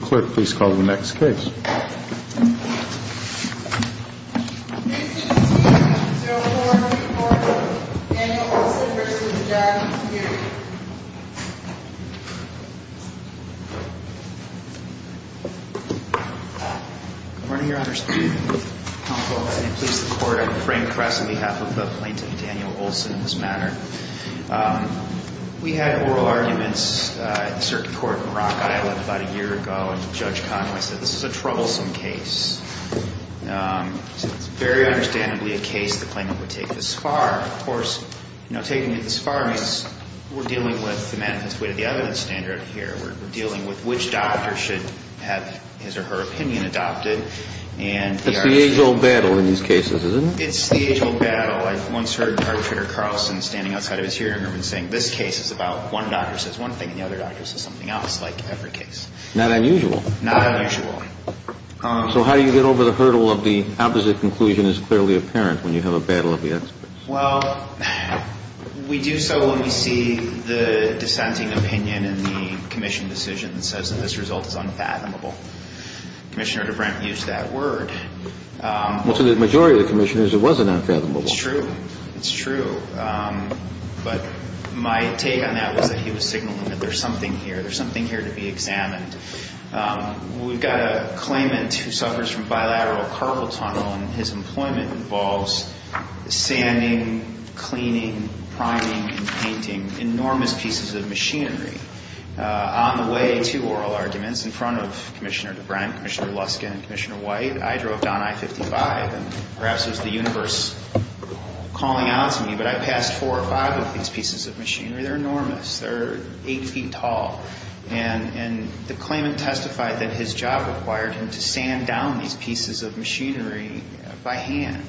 Clerk, please call the next case. Case number two, 0404, Daniel Olson v. the Jackson Community. Good morning, Your Honors. I'm Tom Colvin. I'm a police reporter at the Frame Press on behalf of the plaintiff, Daniel Olson, in this matter. We had oral arguments at the Circuit Court in Rock Island about a year ago when Judge Conway said this is a troublesome case. He said it's very understandably a case the plaintiff would take this far. Of course, taking it this far means we're dealing with the manifest way to the evidence standard here. We're dealing with which doctor should have his or her opinion adopted. That's the age-old battle in these cases, isn't it? It's the age-old battle. I've once heard Arbitrator Carlson standing outside of his hearing room and saying this case is about one doctor says one thing and the other doctor says something else, like every case. Not unusual. Not unusual. So how do you get over the hurdle of the opposite conclusion is clearly apparent when you have a battle of the experts? Well, we do so when we see the dissenting opinion in the commission decision that says that this result is unfathomable. Commissioner DeBrent used that word. Well, to the majority of the commissioners, it was an unfathomable one. It's true. It's true. But my take on that was that he was signaling that there's something here. There's something here to be examined. We've got a claimant who suffers from bilateral carpal tunnel, and his employment involves sanding, cleaning, priming, and painting enormous pieces of machinery. On the way to oral arguments in front of Commissioner DeBrent, Commissioner Luskin, and Commissioner White, I drove down I-55, and perhaps it was the universe calling out to me, but I passed four or five of these pieces of machinery. They're enormous. They're 8 feet tall. And the claimant testified that his job required him to sand down these pieces of machinery by hand.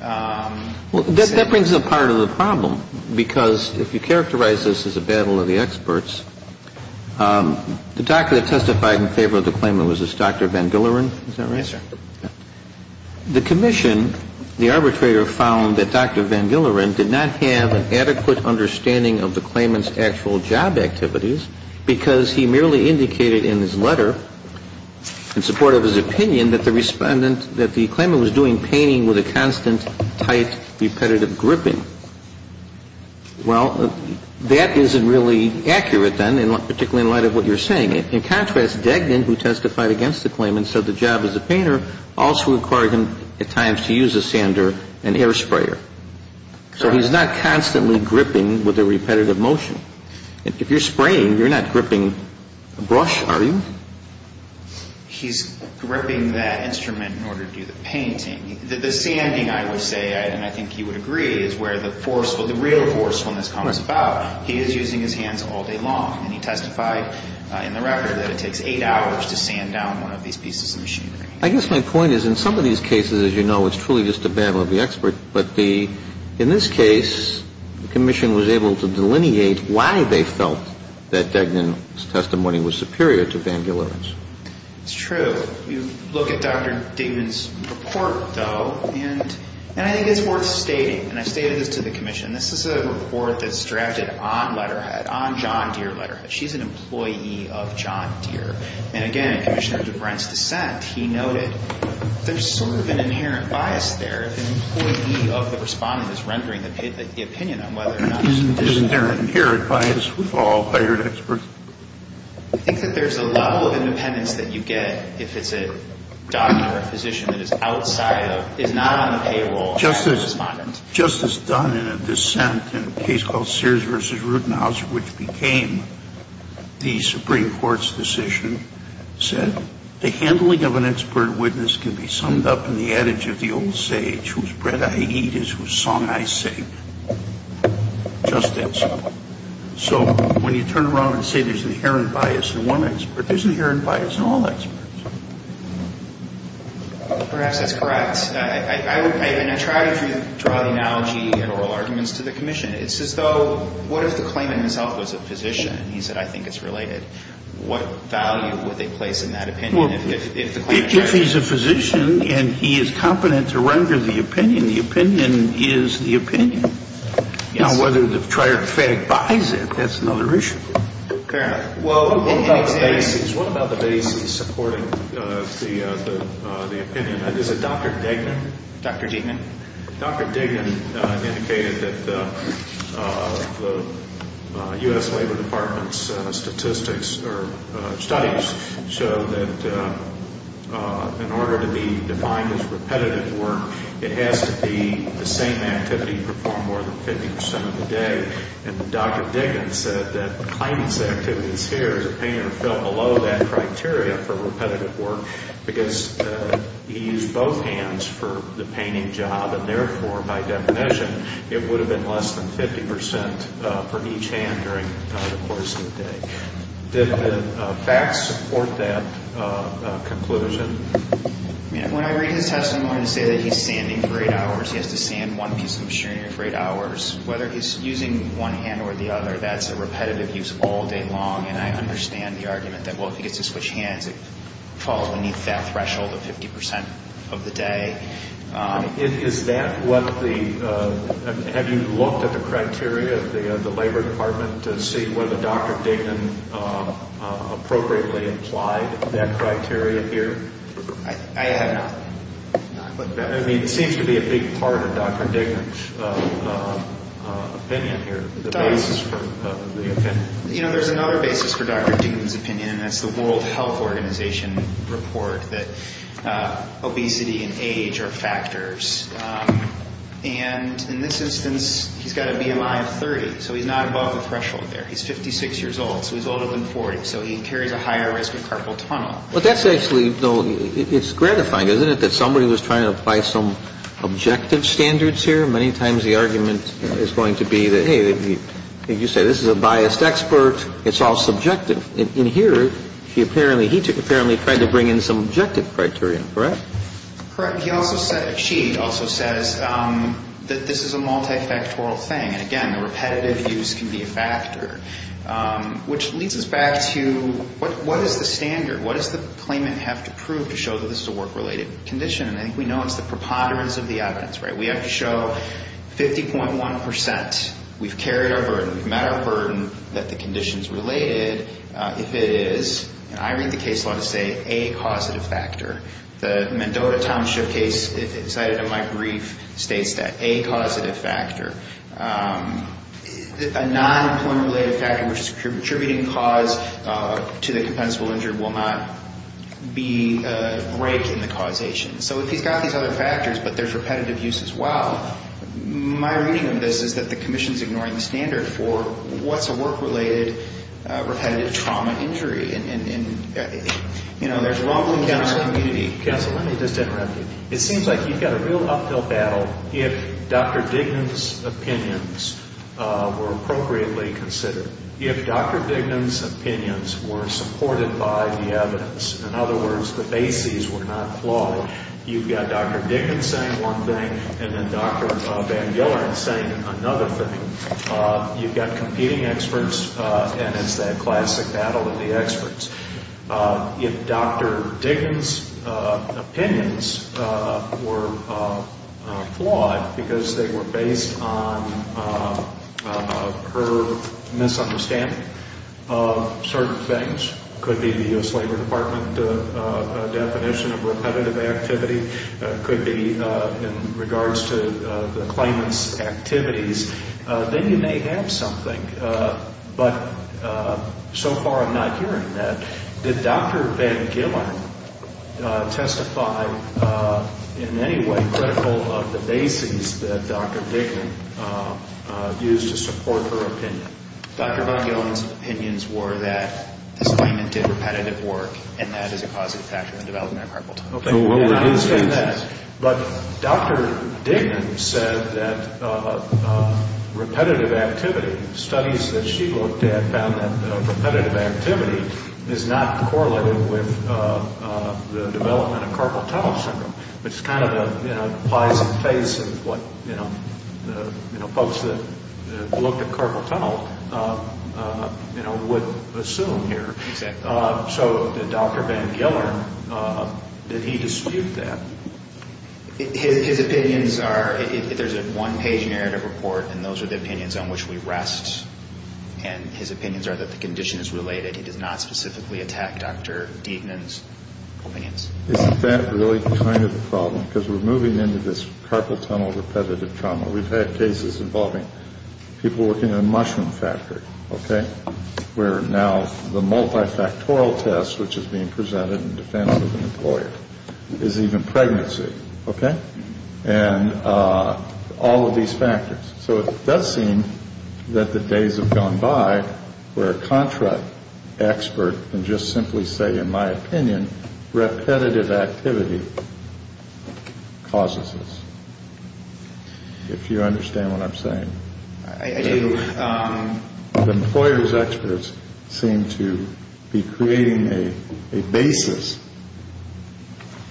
Well, that brings up part of the problem, because if you characterize this as a battle of the experts, the doctor that testified in favor of the claimant was this Dr. Van Gilleren. Is that right? Yes, sir. The commission, the arbitrator, found that Dr. Van Gilleren did not have an adequate understanding of the claimant's actual job activities because he merely indicated in his letter, in support of his opinion, that the claimant was doing painting with a constant, tight, repetitive gripping. Well, that isn't really accurate then, particularly in light of what you're saying. In contrast, Degnan, who testified against the claimant, said the job as a painter also required him, at times, to use a sander and air sprayer. So he's not constantly gripping with a repetitive motion. If you're spraying, you're not gripping a brush, are you? He's gripping that instrument in order to do the painting. The sanding, I would say, and I think you would agree, is where the forceful, the real forcefulness comes about. He is using his hands all day long. And he testified in the record that it takes eight hours to sand down one of these pieces of machinery. I guess my point is, in some of these cases, as you know, it's truly just a battle of the experts. But in this case, the Commission was able to delineate why they felt that Degnan's testimony was superior to Van Gieleren's. It's true. You look at Dr. Degnan's report, though, and I think it's worth stating, and I stated this to the Commission, this is a report that's drafted on Letterhead, on John Deere Letterhead. She's an employee of John Deere. And again, Commissioner DeBrent's dissent, he noted there's sort of an inherent bias there. The employee of the Respondent is rendering the opinion on whether or not it's a dissent. Isn't there an inherent bias? We've all hired experts. I think that there's a level of independence that you get if it's a doctor, a physician that is outside of, is not on the payroll of the Respondent. Justice Dunn, in a dissent in a case called Sears v. Rutenhauser, which became the Supreme Court's decision, said, the handling of an expert witness can be summed up in the adage of the old sage, whose bread I eat is whose song I sing. Just that simple. So when you turn around and say there's an inherent bias in one expert, there's an inherent bias in all experts. Perhaps that's correct. And I try to draw the analogy and oral arguments to the Commission. It's as though, what if the claimant himself was a physician? He said, I think it's related. What value would they place in that opinion if the claimant were a physician? If he's a physician and he is competent to render the opinion, the opinion is the opinion. Now, whether the triartic buys it, that's another issue. Okay. Well, what about the bases? What about the bases supporting the opinion? Is it Dr. Degnan? Dr. Degnan. Dr. Degnan indicated that the U.S. Labor Department's statistics or studies show that in order to be defined as repetitive work, it has to be the same activity performed more than 50% of the day. And Dr. Degnan said that the claimant's activity is here. below that criteria for repetitive work because he used both hands for the painting job. And therefore, by definition, it would have been less than 50% for each hand during the course of the day. Did the facts support that conclusion? When I read his testimony, I say that he's sanding for eight hours. He has to sand one piece of machinery for eight hours. Whether he's using one hand or the other, that's a repetitive use all day long. And I understand the argument that, well, if he gets to switch hands, it falls beneath that threshold of 50% of the day. Is that what the ñ have you looked at the criteria of the Labor Department to see whether Dr. Degnan appropriately applied that criteria here? I have not. I mean, it seems to be a big part of Dr. Degnan's opinion here, the bases for the opinion. You know, there's another basis for Dr. Degnan's opinion, and that's the World Health Organization report that obesity and age are factors. And in this instance, he's got a BMI of 30, so he's not above the threshold there. He's 56 years old, so he's older than 40, so he carries a higher risk of carpal tunnel. Well, that's actually ñ it's gratifying, isn't it, that somebody was trying to apply some objective standards here? Many times the argument is going to be that, hey, you say this is a biased expert. It's all subjective. In here, he apparently tried to bring in some objective criteria, correct? Correct. He also said ñ she also says that this is a multifactorial thing. And again, the repetitive use can be a factor, which leads us back to what is the standard? What does the claimant have to prove to show that this is a work-related condition? And I think we know it's the preponderance of the evidence, right? We have to show 50.1 percent. We've carried our burden. We've met our burden that the condition is related. If it is, I read the case law to say a causative factor. The Mendota Township case, cited in my brief, states that a causative factor. A non-employment-related factor, which is attributing cause to the compensable injury, will not be a break in the causation. So if he's got these other factors, but there's repetitive use as well, my reading of this is that the Commission's ignoring the standard for what's a work-related repetitive trauma injury. And, you know, there's rumbling down our community. Counsel, let me just interrupt you. It seems like you've got a real uphill battle if Dr. Dignan's opinions were appropriately considered, if Dr. Dignan's opinions were supported by the evidence. In other words, the bases were not flawed. You've got Dr. Dignan saying one thing and then Dr. Van Gilleren saying another thing. You've got competing experts, and it's that classic battle of the experts. If Dr. Dignan's opinions were flawed because they were based on her misunderstanding of certain things, which could be the U.S. Labor Department definition of repetitive activity, could be in regards to the claimant's activities, then you may have something. But so far I'm not hearing that. Did Dr. Van Gilleren testify in any way critical of the bases that Dr. Dignan used to support her opinion? Dr. Van Gilleren's opinions were that this claimant did repetitive work, and that is a causative factor in the development of carpal tunnel syndrome. But Dr. Dignan said that repetitive activity, studies that she looked at, found that repetitive activity is not correlated with the development of carpal tunnel syndrome, which kind of applies in the face of what folks that looked at carpal tunnel would assume here. So did Dr. Van Gilleren, did he dispute that? His opinions are, there's a one-page narrative report, and those are the opinions on which we rest. And his opinions are that the condition is related. He did not specifically attack Dr. Dignan's opinions. Isn't that really kind of the problem? Because we're moving into this carpal tunnel repetitive trauma. We've had cases involving people working in a mushroom factory, okay, where now the multifactorial test, which is being presented in defense of an employer, is even pregnancy. Okay? And all of these factors. So it does seem that the days have gone by where a contract expert can just simply say, in my opinion, repetitive activity causes this, if you understand what I'm saying. I do. The employer's experts seem to be creating a basis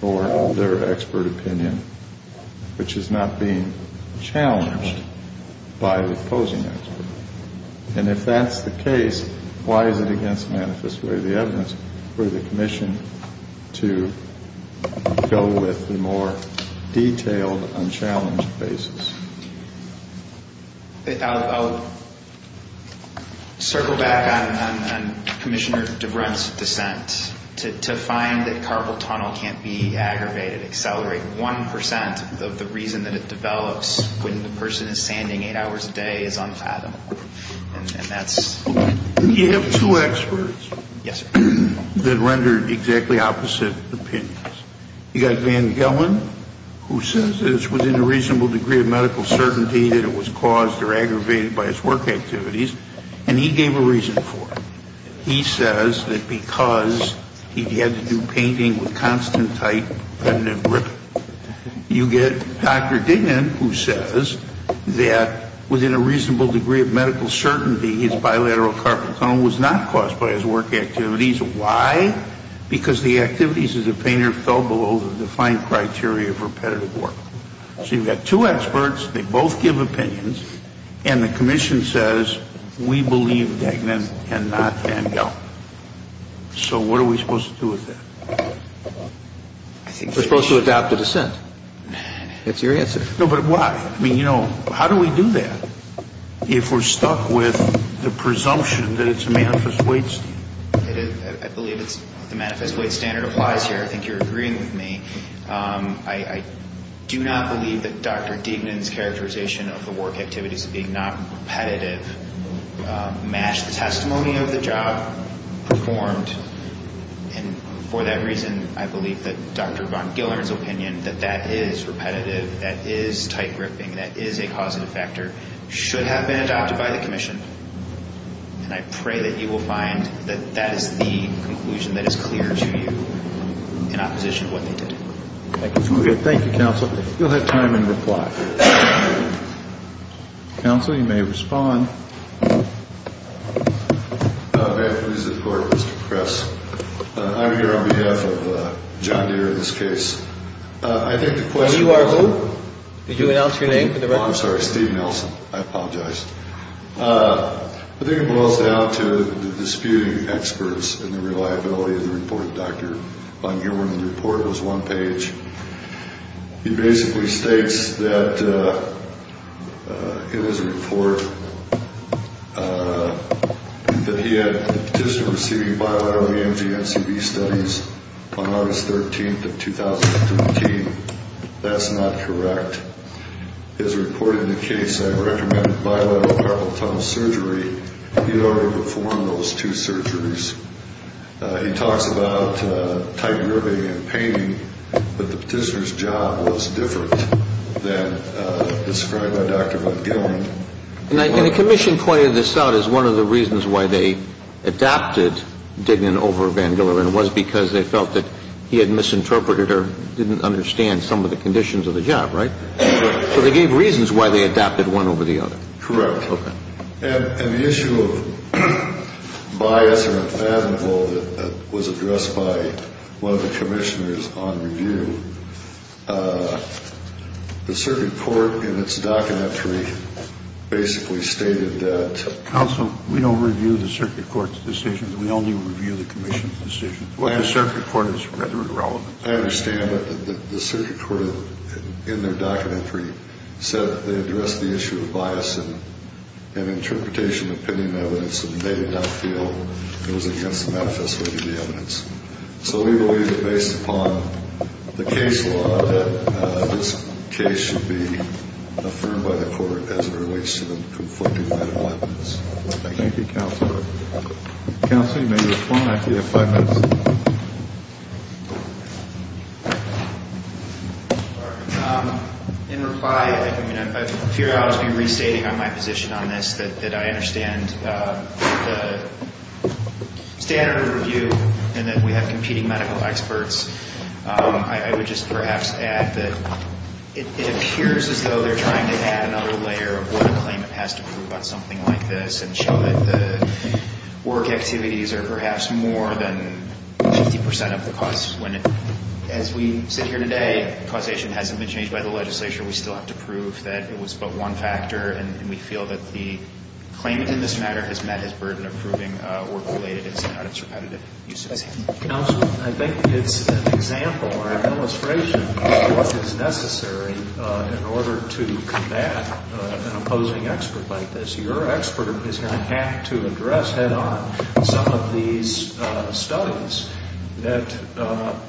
for their expert opinion, which is not being challenged by the opposing expert. And if that's the case, why is it against manifest way of the evidence for the commission to go with the more detailed, unchallenged basis? I'll circle back on Commissioner DeBrun's dissent. To find that carpal tunnel can't be aggravated, accelerated, of the reason that it develops when the person is sanding eight hours a day is unfathomable. And that's ‑‑ You have two experts. Yes, sir. That rendered exactly opposite opinions. You've got Van Gelman, who says that it's within a reasonable degree of medical certainty that it was caused or aggravated by his work activities. And he gave a reason for it. He says that because he had to do painting with constant, tight, repetitive gripping. You get Dr. Dignan, who says that within a reasonable degree of medical certainty, his bilateral carpal tunnel was not caused by his work activities. Why? Because the activities as a painter fell below the defined criteria for repetitive work. So you've got two experts. They both give opinions. And the commission says we believe Dignan and not Van Gelman. So what are we supposed to do with that? We're supposed to adopt a dissent. That's your answer. No, but why? I mean, you know, how do we do that if we're stuck with the presumption that it's a manifest weight standard? I believe the manifest weight standard applies here. I think you're agreeing with me. I do not believe that Dr. Dignan's characterization of the work activities being not repetitive matched the testimony of the job performed. And for that reason, I believe that Dr. Van Gelman's opinion that that is repetitive, that is tight gripping, that is a causative factor, should have been adopted by the commission. And I pray that you will find that that is the conclusion that is clear to you in opposition to what they did. Thank you. Thank you, Counsel. You'll have time in reply. Counsel, you may respond. May I please report, Mr. Press? I'm here on behalf of John Deere in this case. And you are who? Did you announce your name for the record? Oh, I'm sorry, Steve Nelson. I apologize. I think it boils down to the disputing experts and the reliability of the report of Dr. Van Gelman. The report was one page. It basically states that it was a report that he had just been receiving bioavailability NCV studies on August 13th of 2013. That's not correct. As reported in the case, I recommended bilateral carpal tunnel surgery. He had already performed those two surgeries. He talks about tight gripping and pain, but the petitioner's job was different than described by Dr. Van Gelman. And the commission pointed this out as one of the reasons why they adopted Dignan over Van Gelman was because they felt that he had misinterpreted or didn't understand some of the conditions of the job, right? So they gave reasons why they adopted one over the other. Correct. Okay. And the issue of bias or unfathomable that was addressed by one of the commissioners on review, the circuit court in its documentary basically stated that. Counsel, we don't review the circuit court's decision. We only review the commission's decision. The circuit court is rather irrelevant. I understand, but the circuit court in their documentary said they addressed the issue of bias in an interpretation of pending evidence and they did not feel it was against the manifest way of the evidence. So we believe that based upon the case law, that this case should be affirmed by the court as it relates to the conflicting medical evidence. Thank you. Thank you, Counselor. Counselor, you may respond after you have five minutes. In reply, I mean, I fear I'll just be restating my position on this, that I understand the standard of review and that we have competing medical experts. I would just perhaps add that it appears as though they're trying to add another layer of what a claimant has to prove on something like this and show that the work activities are perhaps more than 50% of the costs. As we sit here today, causation hasn't been changed by the legislature. We still have to prove that it was but one factor, and we feel that the claimant in this matter has met his burden of proving work-related incidents, not its repetitive uses. Counselor, I think it's an example or an illustration of what is necessary in order to combat an opposing expert like this. Your expert is going to have to address head-on some of these studies that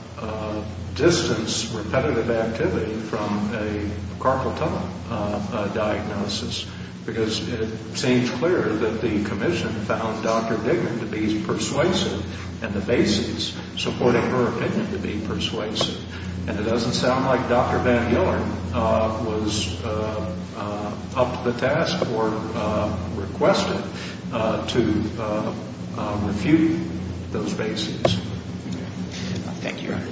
distance repetitive activity from a carpal tunnel diagnosis because it seems clear that the Commission found Dr. Dicken to be persuasive and the bases supporting her opinion to be persuasive. And it doesn't sound like Dr. Van Yolen was up to the task or requested to refute those bases. Thank you, Your Honor.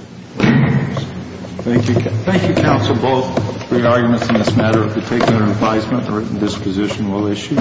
Thank you, counsel, both for your arguments in this matter. If you take their advisement, the written disposition will issue.